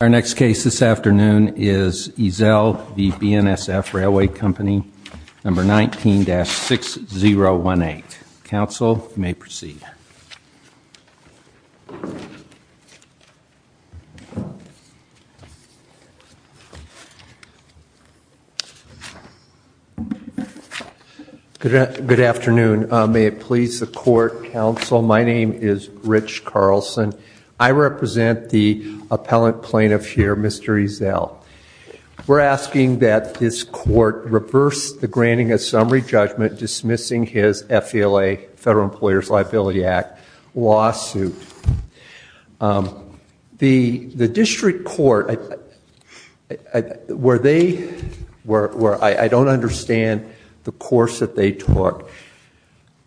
Our next case this afternoon is Ezell v. BNSF Railway Company, number 19-6018. Counsel may proceed. Good afternoon. May it please the court, counsel, my name is Rich Carlson. I represent the appellant plaintiff here, Mr. Ezell. We're asking that this court reverse the granting a summary judgment dismissing his FELA, Federal Employers Liability Act, lawsuit. The district court, where they were, I don't understand the course that they took.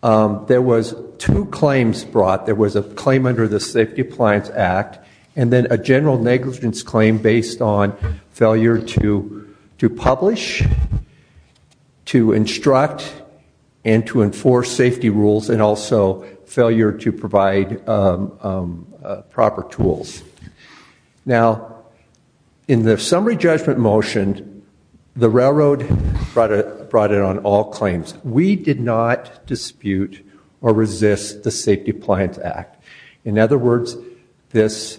There was two claims brought. There was a Safety Appliance Act, and then a general negligence claim based on failure to publish, to instruct, and to enforce safety rules, and also failure to provide proper tools. Now in the summary judgment motion, the railroad brought it on all claims. We did not dispute or resist the Safety Appliance Act. In other words, this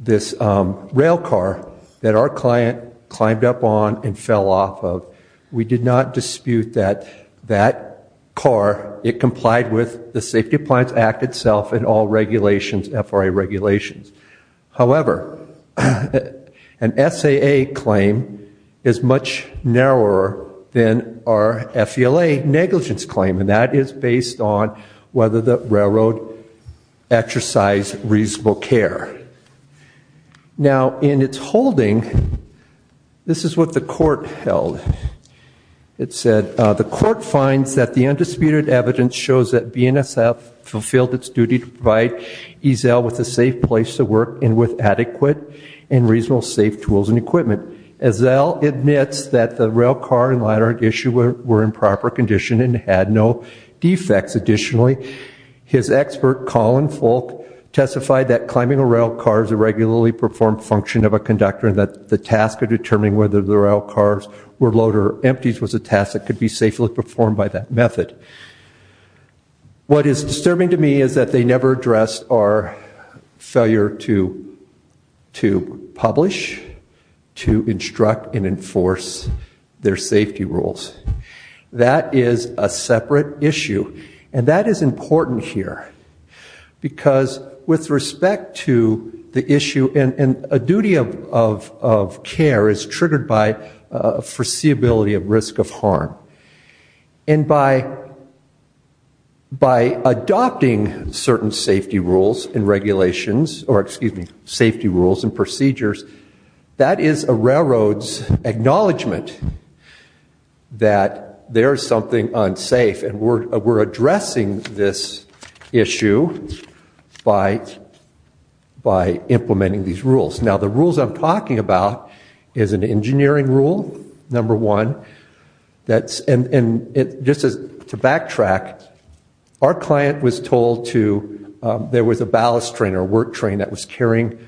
rail car that our client climbed up on and fell off of, we did not dispute that that car, it complied with the Safety Appliance Act itself and all regulations, FRA regulations. However, an SAA claim is much narrower than our FELA negligence claim, and that is based on whether the railroad exercise reasonable care. Now in its holding, this is what the court held. It said, the court finds that the undisputed evidence shows that BNSF fulfilled its duty to provide Ezell with a safe place to work and with adequate and reasonable safe tools and equipment. Ezell admits that the rail car and ladder issue were in proper condition and had no defects. Additionally, his expert Colin Folk testified that climbing a rail car is a regularly performed function of a conductor and that the task of determining whether the rail cars were load or empties was a task that could be safely performed by that method. What is disturbing to me is that they never addressed our failure to to publish, to that is a separate issue, and that is important here because with respect to the issue, and a duty of care is triggered by foreseeability of risk of harm, and by adopting certain safety rules and regulations, or excuse me, safety rules and procedures, that is a railroad's acknowledgement that there's something unsafe and we're addressing this issue by implementing these rules. Now the rules I'm talking about is an engineering rule, number one, that's and just to backtrack, our client was told to, there was a ballast train or work train that was carrying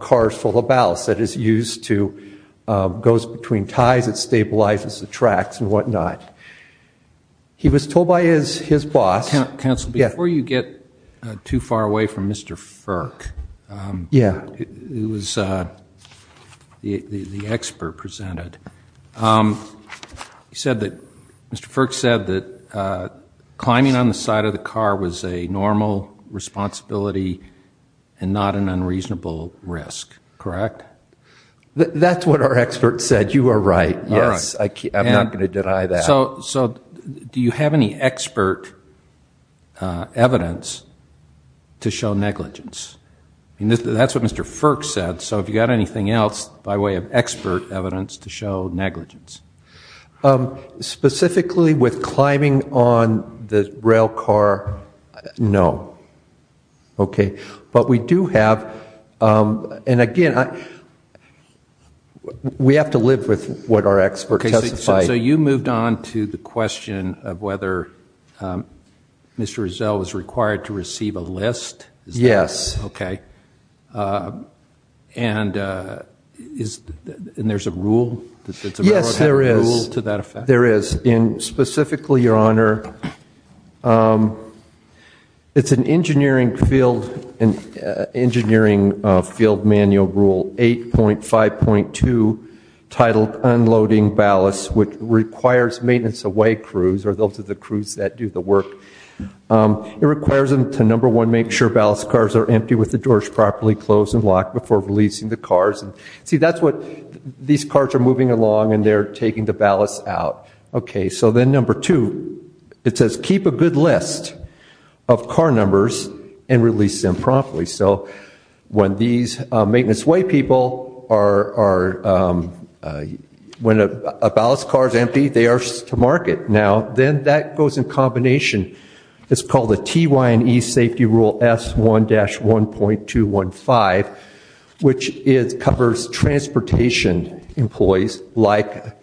cars full of ballast that is used to, goes between ties, it stabilizes the tracks and whatnot. He was told by his his boss, Council, before you get too far away from Mr. Firk, yeah, it was the expert presented, he said that Mr. Firk said that climbing on the side of the car was a normal responsibility and not an unreasonable risk, correct? That's what our expert said, you are right, yes, I'm not going to deny that. So do you have any expert evidence to show negligence? I mean that's what Mr. Firk said, so if you got anything else by way of expert evidence to show negligence? Specifically with climbing on the rail car, no. Okay, but we do have, and again, we have to live with what our expert testified. So you moved on to the question of whether Mr. Rizzo was required to receive a list? Yes. Okay, and is, and there's a rule? Yes, there is. To that effect? There is, and specifically, Your Honor, it's an engineering field, an engineering field manual rule 8.5.2, titled unloading ballast, which requires maintenance away crews, or those of the crews that do the work. It requires them to, number one, make sure ballast cars are empty with the doors properly closed and locked before releasing the cars, and see that's what, these cars are moving along and they're taking the ballast out. Okay, so then number two, it says keep a good list of car numbers and release them properly. So when these maintenance way people are, when a ballast car is empty, they are to market. Now, then that goes in combination. It's called a TY&E Safety Rule S1-1.215, which is, covers transportation employees like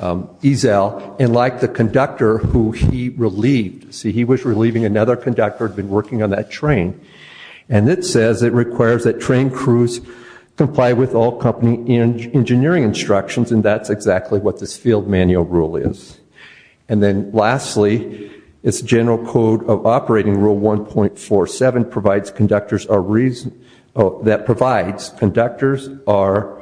Ezel and like the conductor who he relieved. See, he was relieving another conductor who had been working on that train, and it says it requires that train crews comply with all company engineering instructions, and that's exactly what this field manual rule is. And then lastly, it's General Code of Operating Rule 1.47 provides conductors are reason, that provides conductors are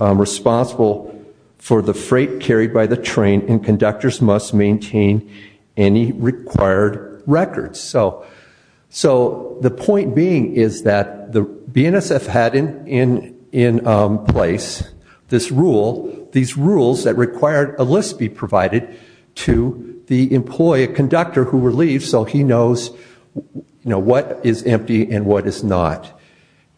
responsible for the freight carried by the train, and conductors must maintain any required records. So the point being is that the BNSF had in place this rule, these rules that required a list be provided to the employee, a conductor who relieved, so he knows, you know, what is empty and what is not.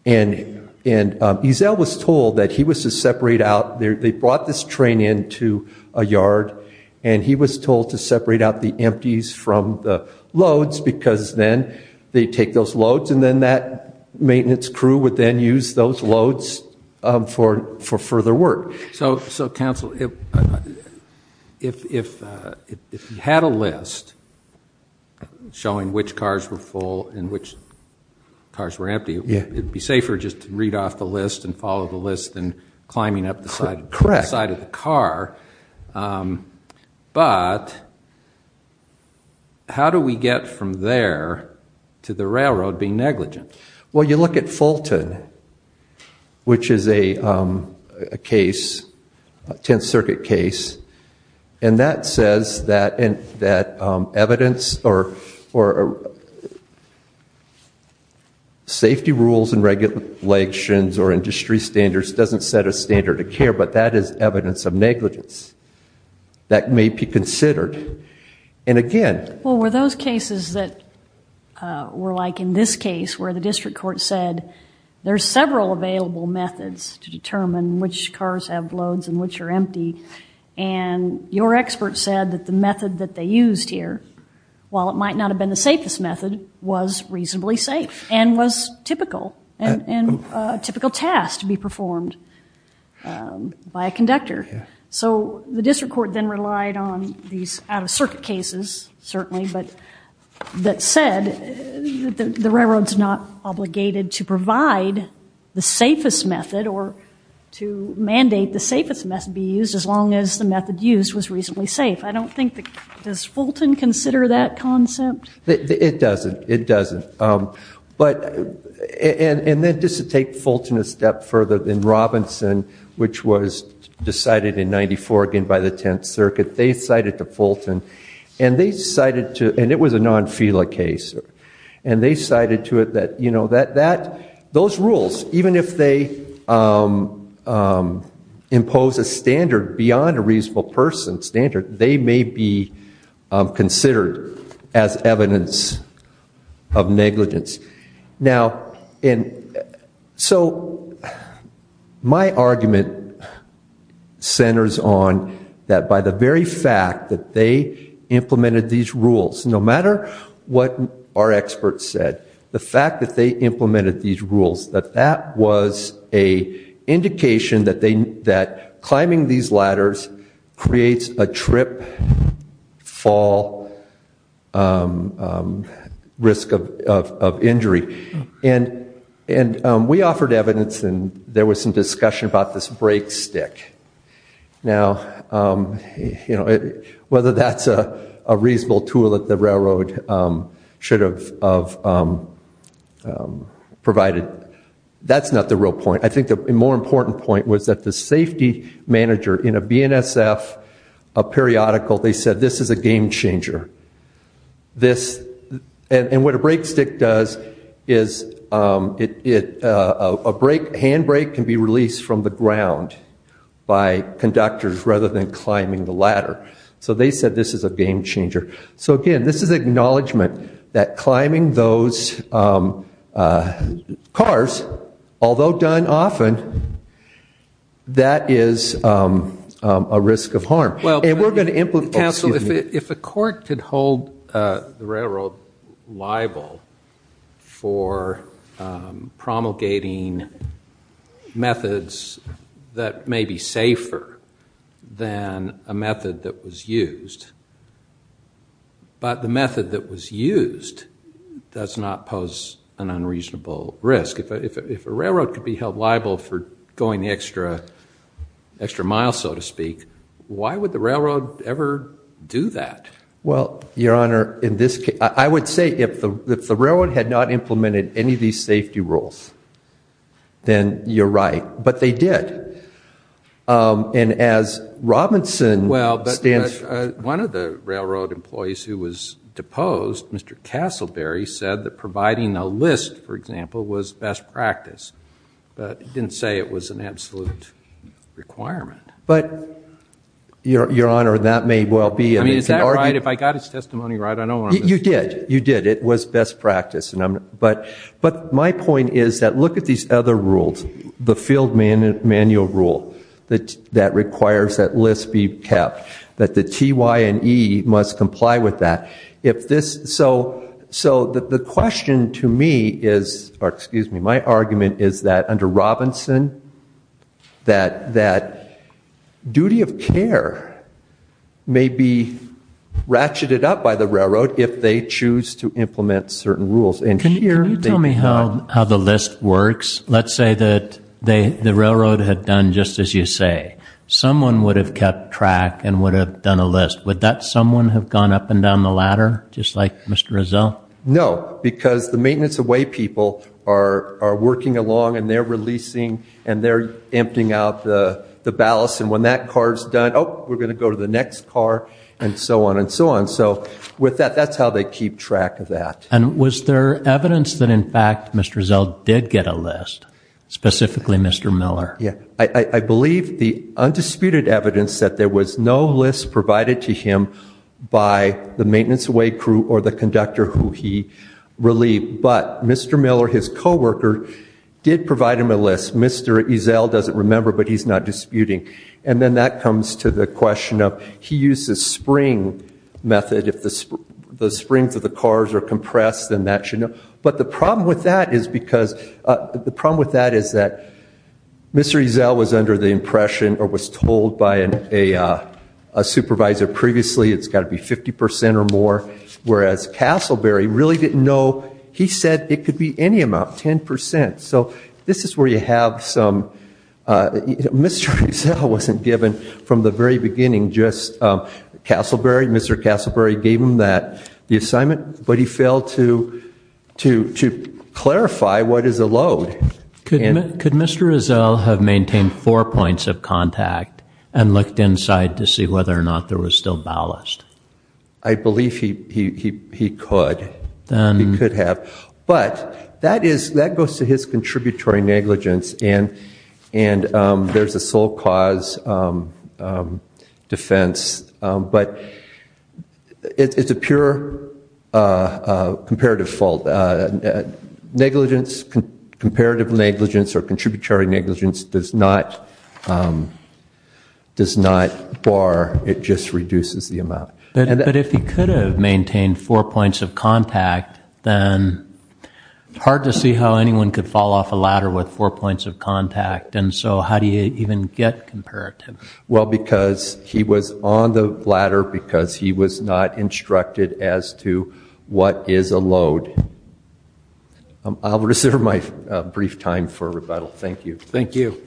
And Ezel was told that he was to separate out, they brought this train into a yard, and he was told to separate out the empties from the loads, because then they take those loads, and then that maintenance crew would then use those for further work. So Council, if you had a list showing which cars were full and which cars were empty, it'd be safer just to read off the list and follow the list and climbing up the side of the car, but how do we get from there to the railroad being negligent? Well, you look at Fulton, which is a case, 10th Circuit case, and that says that evidence or safety rules and regulations or industry standards doesn't set a standard of care, but that is evidence of negligence that may be considered. And again, well were those cases that were like in this case, where the district court said there's several available methods to determine which cars have loads and which are empty, and your expert said that the method that they used here, while it might not have been the safest method, was reasonably safe and was typical, and a typical task to be performed by a conductor. So the district court then relied on these out that said the railroad's not obligated to provide the safest method or to mandate the safest method be used as long as the method used was reasonably safe. I don't think that, does Fulton consider that concept? It doesn't, it doesn't, but and then just to take Fulton a step further than Robinson, which was decided in 94 again by the 10th Circuit, they cited to Fulton and they decided to, and it was a non-FILA case, and they cited to it that, you know, that those rules, even if they impose a standard beyond a reasonable person standard, they may be considered as evidence of negligence. Now, and so my argument centers on that by the very fact that they implemented these rules, no matter what our experts said, the fact that they implemented these rules, that that was a indication that they, that climbing these ladders creates a trip, fall, risk of injury, and and we offered evidence and there was some discussion about this break stick. Now, you know, whether that's a reasonable tool that the railroad should have provided, that's not the real point. I think the more important point was that the safety manager in a BNSF periodical, they said this is a game changer. This, and what a break stick does is it, a break, hand break can be by conductors rather than climbing the ladder. So they said this is a game changer. So again, this is acknowledgment that climbing those cars, although done often, that is a risk of harm. Well, and we're going to implement. Counsel, if a court could hold the railroad liable for promulgating methods that may be safer than a method that was used, but the method that was used does not pose an unreasonable risk. If a railroad could be held liable for going extra, extra miles, so to speak, why would the railroad ever do that? Well, your honor, in this case, I would say if the railroad had not implemented any of these safety rules, then you're right. But they did. And as Robinson stands... Well, one of the railroad employees who was deposed, Mr. Castleberry, said that providing a list, for example, was best practice. But he didn't say it was an absolute requirement. But, your honor, that may well be... I mean, is that right? If I got his testimony right, I don't want to... You did. You did. It was best practice. And I'm, but, but my point is that look at these other rules. The field manual rule that, that requires that list be kept. That the T, Y, and E must comply with that. If this... So, so the question to me is, or excuse me, my argument is that under Robinson, that, that duty of care may be ratcheted up by the railroad if they choose to implement certain rules. And here... Can you tell me how, how the list works? Let's say that they, the railroad had done just as you say. Someone would have kept track and would have done a list. Would that someone have gone up and down the ladder, just like Mr. Rizzo? No, because the maintenance away people are, are working along and they're releasing and they're emptying out the, the ballast. And when that car's done, oh, we're gonna go to the next car and so on and so on. So with that, that's how they keep track of that. And was there evidence that in fact Mr. Rizzo did get a list, specifically Mr. Miller? Yeah, I believe the undisputed evidence that there was no list provided to him by the maintenance away crew or the conductor who he relieved. But Mr. Miller, his co-worker, did provide him a list. Mr. Rizzo doesn't remember, but he's not disputing. And then that comes to the springs of the cars are compressed and that should know. But the problem with that is because, the problem with that is that Mr. Rizzo was under the impression or was told by an a supervisor previously, it's got to be 50% or more. Whereas Castleberry really didn't know. He said it could be any amount, 10%. So this is where you have some, Mr. Rizzo wasn't given from the very beginning Castleberry, Mr. Castleberry gave him that the assignment, but he failed to clarify what is a load. Could Mr. Rizzo have maintained four points of contact and looked inside to see whether or not there was still ballast? I believe he could. He could have. But that goes to his contributory negligence and there's a sole cause defense. But it's a pure comparative fault. Negligence, comparative negligence or contributory negligence does not does not bar, it just reduces the amount. But if he could have maintained four points of contact, then it's hard to see how anyone could fall off a ladder with four points of contact. And so how do you even get comparative? Well because he was on the ladder because he was not instructed as to what is a load. I'll reserve my brief time for rebuttal. Thank you. Thank you.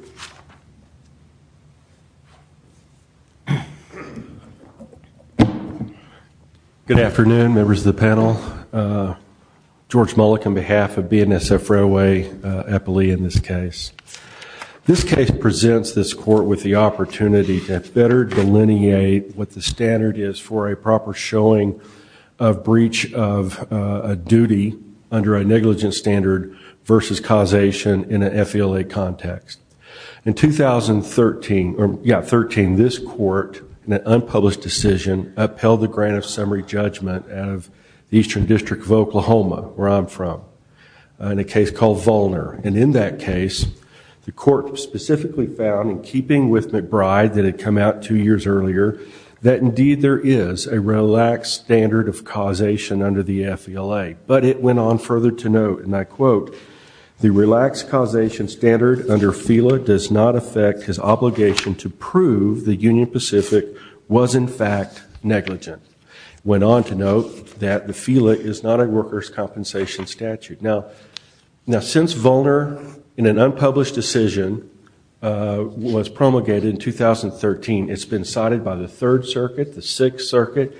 Good afternoon members of the panel. George Mullick on behalf of BNSF Railway, Eppley in this case. This case presents this court with the opportunity to better delineate what the standard is for a proper showing of breach of a duty under a negligence standard versus causation in an FELA context. In 2013, this court in an unpublished decision upheld the grant of summary judgment out of the Eastern District of Oklahoma, where I'm from, in a case called Volner. And in that case, the court specifically found in keeping with McBride that had come out two years earlier, that indeed there is a relaxed standard of causation under the FELA. But it went on further to note and I quote the relaxed causation standard under FELA does not affect his obligation to prove the Union Pacific was in fact negligent. Went on to note that the FELA is not a workers' compensation statute. Now since Volner in an unpublished decision was promulgated in 2013, it's been cited by the Third Circuit, the Sixth Circuit,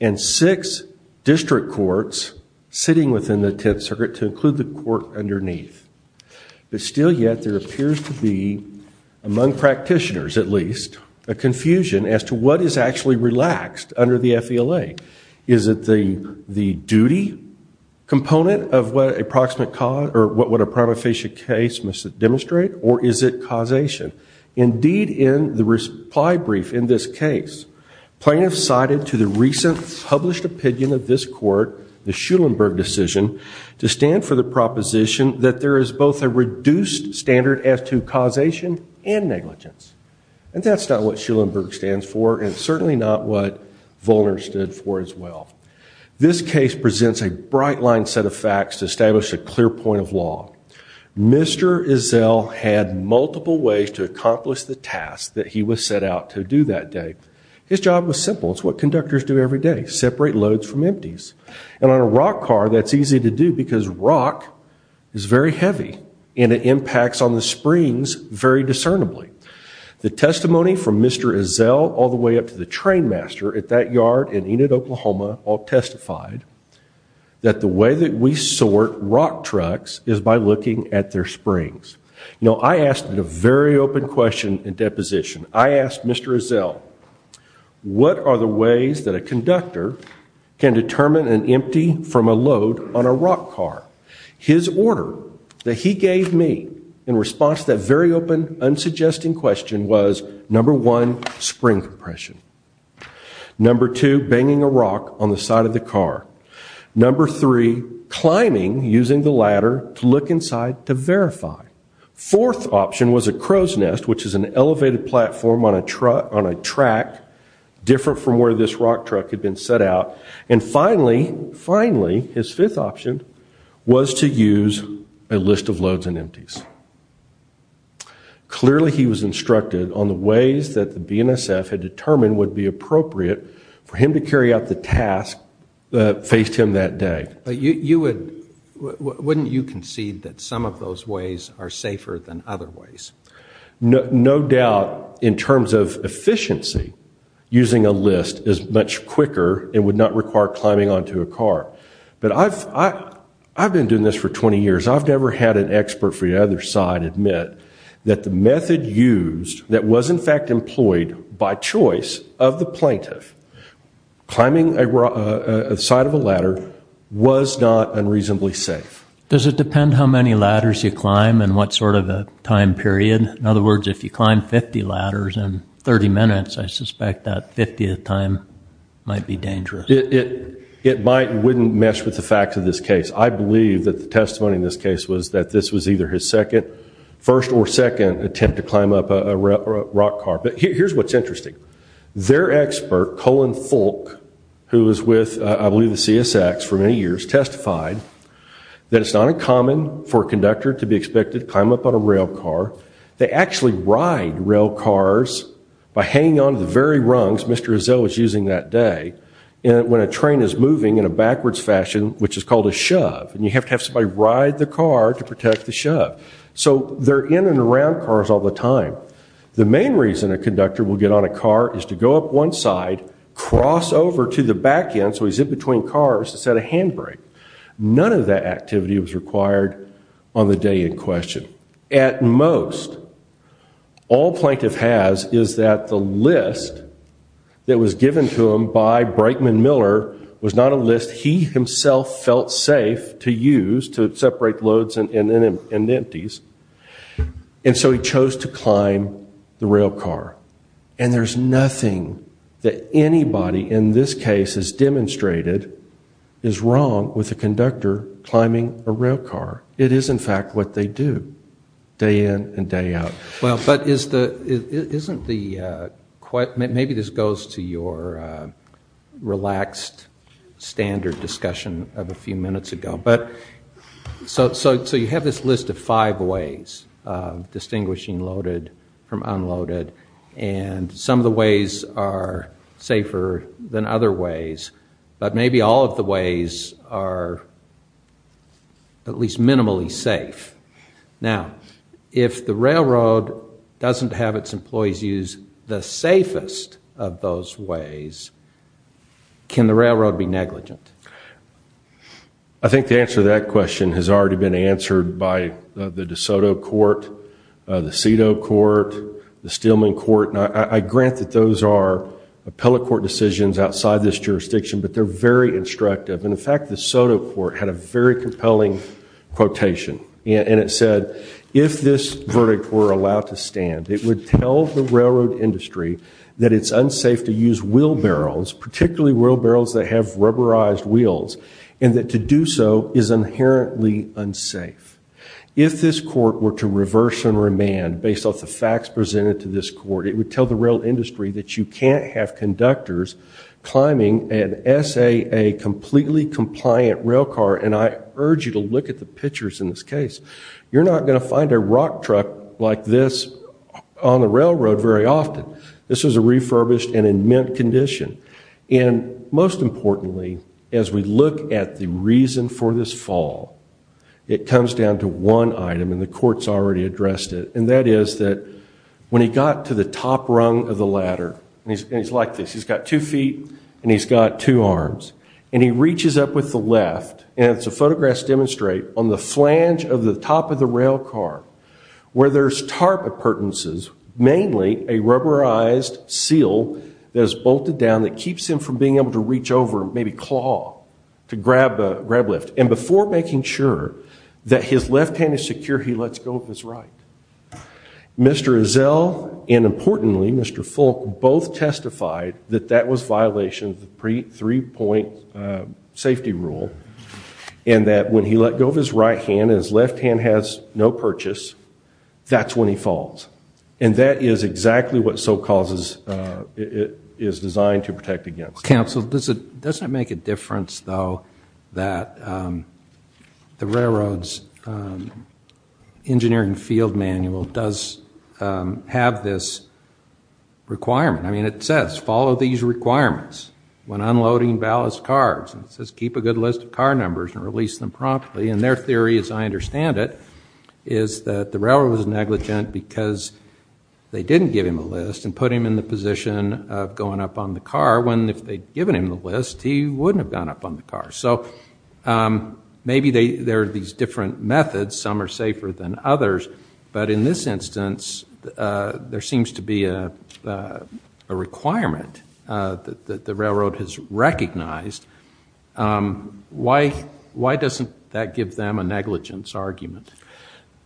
and six district courts sitting within the Tenth Circuit to include the court underneath. But still yet there appears to be, among practitioners at least, a confusion as to what is actually relaxed under the FELA. Is it the duty component of what a proximate cause or what would a prima facie case must demonstrate or is it causation? Indeed in the reply brief in this case, plaintiffs cited to the recent published opinion of this court, the Schulenberg decision, to stand for the proposition that there is both a reduced standard as to causation and negligence. And that's not what Schulenberg stands for and certainly not what Volner stood for as well. This case presents a bright line set of facts to establish a clear point of law. Mr. Izzell had multiple ways to accomplish the task that he was set out to do that day. His job was simple. It's what conductors do every day. Separate loads from empties. And on a rock car that's easy to do because rock is very heavy and it impacts on the springs very discernibly. The testimony from Mr. Izzell all the way up to the train master at that yard in Enid, Oklahoma all testified that the way that we sort rock trucks is by looking at their springs. You know I asked a very open question in deposition. I asked Mr. Izzell what are the ways that a conductor can determine an empty from a load on a rock car? His order that he gave me in response to that very open unsuggesting question was number one spring compression. Number two banging a rock on the side of the car. Number three climbing using the ladder to look inside to verify. Fourth option was a crow's nest which is an elevated platform on a track different from where this rock truck had been set out. And finally finally his fifth option was to use a list of loads and empties. Clearly he was instructed on the ways that the BNSF had determined would be appropriate for him to carry out the task that faced him that day. But you would wouldn't you concede that some of those ways are safer than other ways? No doubt in terms of efficiency using a list is much quicker and would not require climbing onto a car. But I've I've been doing this for 20 years I've never had an expert for the other side admit that the method used that was in fact employed by choice of the plaintiff climbing a side of a ladder was not unreasonably safe. Does it depend how many ladders you climb and what sort of a time period? In other 30 minutes I suspect that 50th time might be dangerous. It it might wouldn't mess with the facts of this case. I believe that the testimony in this case was that this was either his second first or second attempt to climb up a rock car. But here's what's interesting. Their expert Colin Fulk who was with I believe the CSX for many years testified that it's not a common for conductor to be expected climb up on a rail car. They actually ride rail cars by hanging on to the very rungs Mr. Rizzo was using that day. And when a train is moving in a backwards fashion which is called a shove and you have to have somebody ride the car to protect the shove. So they're in and around cars all the time. The main reason a conductor will get on a car is to go up one side cross over to the back end so he's in between cars to set a handbrake. None of that activity was required on the day in question. At most all plaintiff has is that the list that was given to him by Brakeman Miller was not a list he himself felt safe to use to separate loads and then and empties. And so he chose to climb the rail car. And there's nothing that anybody in this case has demonstrated is wrong with a car. It is in fact what they do day in and day out. Well but isn't the quiet maybe this goes to your relaxed standard discussion of a few minutes ago. But so so you have this list of five ways of distinguishing loaded from unloaded and some of the ways are safer than other ways but maybe all of the ways are at least minimally safe. Now if the railroad doesn't have its employees use the safest of those ways can the railroad be negligent? I think the answer to that question has already been answered by the DeSoto Court, the Cito Court, the I grant that those are appellate court decisions outside this jurisdiction but they're very instructive and in fact the Soto Court had a very compelling quotation and it said if this verdict were allowed to stand it would tell the railroad industry that it's unsafe to use wheel barrels particularly wheel barrels that have rubberized wheels and that to do so is inherently unsafe. If this court were to reverse and remand based off the facts presented to this court it would tell the real industry that you can't have conductors climbing an SAA completely compliant rail car and I urge you to look at the pictures in this case. You're not going to find a rock truck like this on the railroad very often. This was a refurbished and in mint condition and most importantly as we look at the reason for this fall it comes down to one item and the courts already addressed it and that is that when he got to the top rung of the ladder and he's like this he's got two feet and he's got two arms and he reaches up with the left and it's a photographs demonstrate on the flange of the top of the rail car where there's tarp appurtenances mainly a rubberized seal that is bolted down that keeps him from being able to reach over maybe claw to grab a grab lift and before making sure that his left hand is secure he lets go of his right. Mr. Ezell and importantly Mr. Fulk both testified that that was violation of the three-point safety rule and that when he let go of his right hand his left hand has no purchase that's when he falls and that is exactly what so causes it is designed to protect against. Counsel does it make a difference though that the railroads engineering field manual does have this requirement I mean it says follow these requirements when unloading ballast cars and says keep a good list of car numbers and release them promptly and their theory as I understand it is that the railroad was negligent because they didn't give him a list and put him in the position of going up on the car when if they'd given him the list he wouldn't have gone up on the car so maybe they there are these different methods some are safer than others but in this instance there seems to be a requirement that the railroad has recognized why why doesn't that give them a negligence argument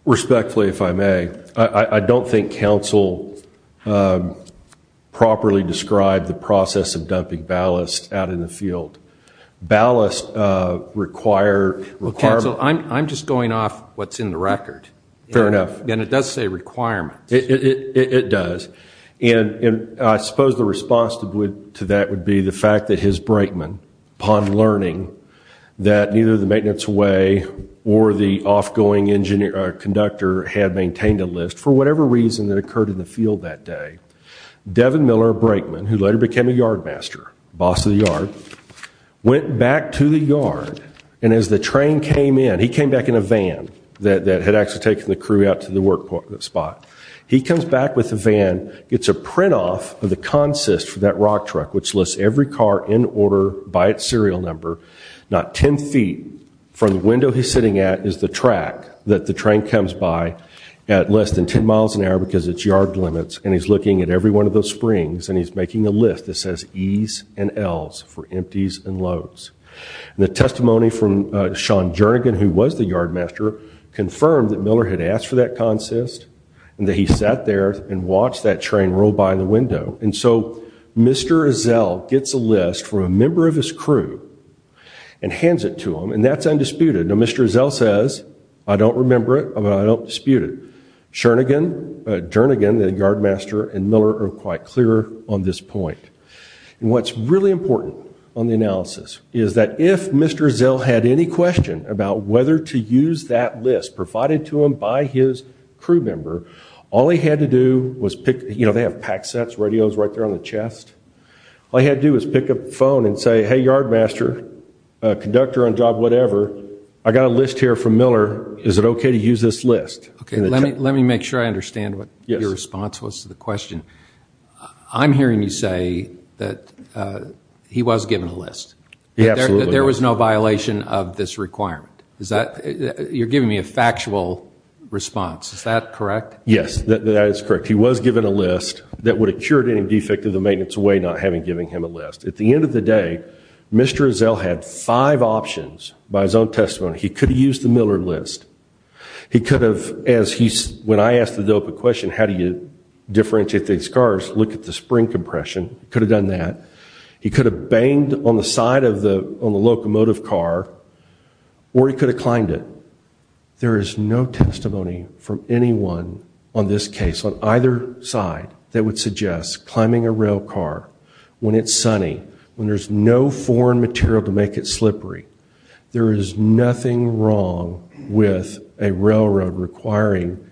respectfully if I may I don't think counsel properly describe the process of dumping ballast out in the field ballast require well counsel I'm just going off what's in the record fair enough and it does say requirements it does and I suppose the response to would to that would be the fact that his brakeman upon learning that neither the maintenance way or the off going engineer conductor had maintained a list for whatever reason that occurred in the field that day Devin Miller brakeman who later became a yardmaster boss of the yard went back to the yard and as the train came in he came back in a van that had actually taken the crew out to the workbook that spot he comes back with a van gets a print off of the consist for that rock truck which lists every car in by its serial number not 10 feet from the window he's sitting at is the track that the train comes by at less than 10 miles an hour because it's yard limits and he's looking at every one of those Springs and he's making a list that says ease and L's for empties and loads the testimony from Sean Jernigan who was the yardmaster confirmed that Miller had asked for that consist and that he sat there and watched that train roll by in the window and so mr. azelle gets a list from a member of his crew and hands it to him and that's undisputed no mr. zell says I don't remember it I don't dispute it shernigan jernigan the yardmaster and Miller are quite clear on this point and what's really important on the analysis is that if mr. zell had any question about whether to use that list provided to him by his crew member all he had to do was pick you know they have pack sets radios right there on the chest I had to is pick up the phone and say hey yardmaster conductor on job whatever I got a list here from Miller is it okay to use this list okay let me let me make sure I understand what your response was to the question I'm hearing you say that he was given a list yeah there was no violation of this requirement is that you're giving me a factual response is that correct yes that is correct he was given a list that would have cured any defect of the maintenance away not having giving him a list at the end of the day mr. zell had five options by his own testimony he could have used the Miller list he could have as he's when I asked the dope a question how do you differentiate these cars look at the spring compression could have done that he could have banged on the side of the locomotive car or he could have climbed it there is no testimony from anyone on this case on either side that would suggest climbing a rail car when it's sunny when there's no foreign material to make it slippery there is nothing wrong with a railroad requiring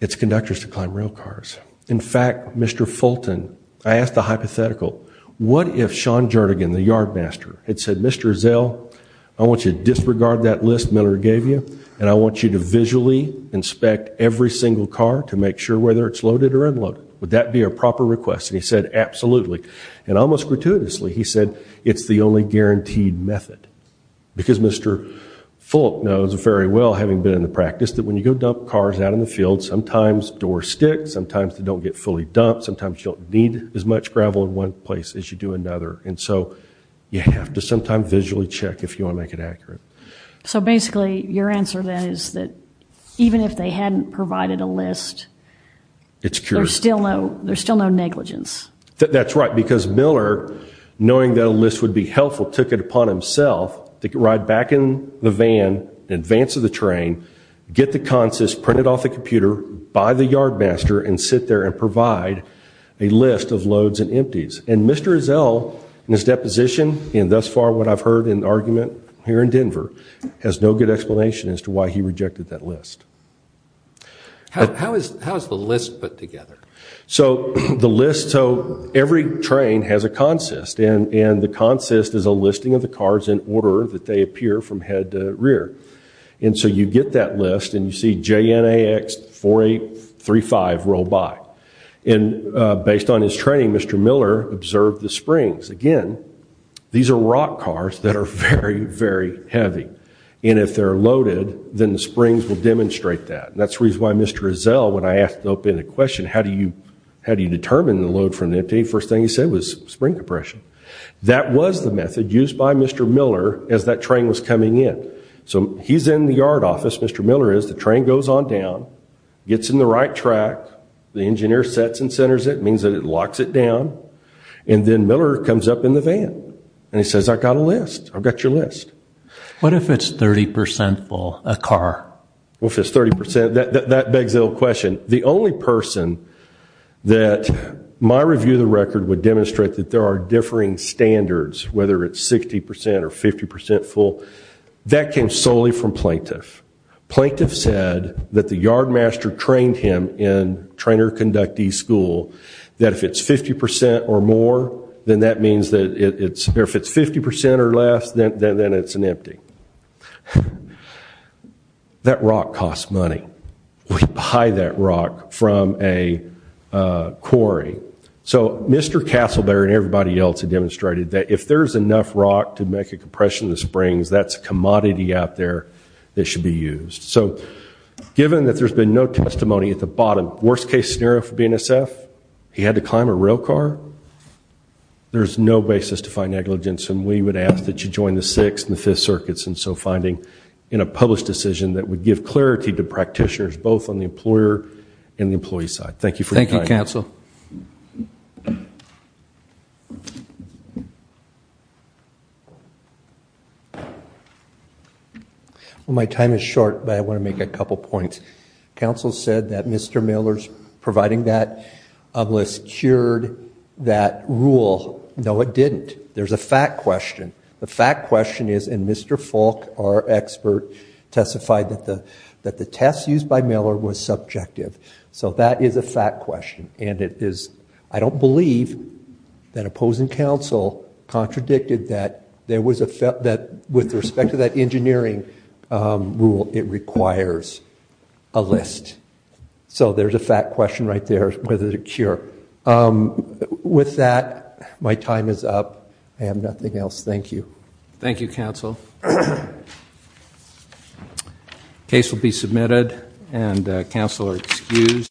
its conductors to climb rail cars in fact mr. Fulton I asked the hypothetical what if Sean Jernigan the yardmaster it said mr. Zell I want you to disregard that list Miller gave you and I want you to inspect every single car to make sure whether it's loaded or unloaded would that be a proper request and he said absolutely and almost gratuitously he said it's the only guaranteed method because mr. Fulton knows very well having been in the practice that when you go dump cars out in the field sometimes door sticks sometimes they don't get fully dumped sometimes you don't need as much gravel in one place as you do another and so you have to sometime visually check if you want to make it accurate so basically your answer that is that even if they hadn't provided a list it's curious still no there's still no negligence that's right because Miller knowing that a list would be helpful took it upon himself to get right back in the van in advance of the train get the consist printed off the computer by the yardmaster and sit there and provide a list of loads and empties and mr. is L in his deposition in thus what I've heard in argument here in Denver has no good explanation as to why he rejected that list how is how's the list put together so the list so every train has a consist and and the consist is a listing of the cars in order that they appear from head to rear and so you get that list and you see JNA X 4 8 3 5 roll by and based on his training mr. Miller observed the Springs again these are rock cars that are very very heavy and if they're loaded then the Springs will demonstrate that that's reason why mr. is L when I asked open a question how do you how do you determine the load from the first thing you said was spring compression that was the method used by mr. Miller as that train was coming in so he's in the yard office mr. Miller is the train goes on down gets in the right track the engineer sets and centers it means that it locks it down and then Miller comes up in the van and he says I got a list I've got your list what if it's 30% full a car well if it's 30% that that begs a little question the only person that my review the record would demonstrate that there are differing standards whether it's 60% or 50% full that came solely from plaintiff plaintiff said that the yardmaster trained him in trainer conductee school that if it's 50% or more then that means that it's there if it's 50% or less then then it's an empty that rock costs money we buy that rock from a quarry so mr. Castleberry and everybody else had demonstrated that if there's enough rock to make a compression the Springs that's a commodity out there that should be used so given that there's been no testimony at the bottom worst-case scenario for BNSF he had to climb a rail car there's no basis to find negligence and we would ask that you join the sixth and the fifth circuits and so finding in a published decision that would give clarity to practitioners both on the employer and the employee side thank you for thank you counsel well my time is short but I want to make a couple points council said that mr. Miller's providing that list cured that rule no it didn't there's a fact question the fact question is and mr. Falk our expert testified that the that the tests used by Miller was subjective so that is a fact question and it is I don't believe that opposing counsel contradicted that there was a felt that with respect to that engineering rule it requires a list so there's a fact question right there whether the cure with that my time is up I have nothing else thank you Thank You counsel case will be submitted and council are excused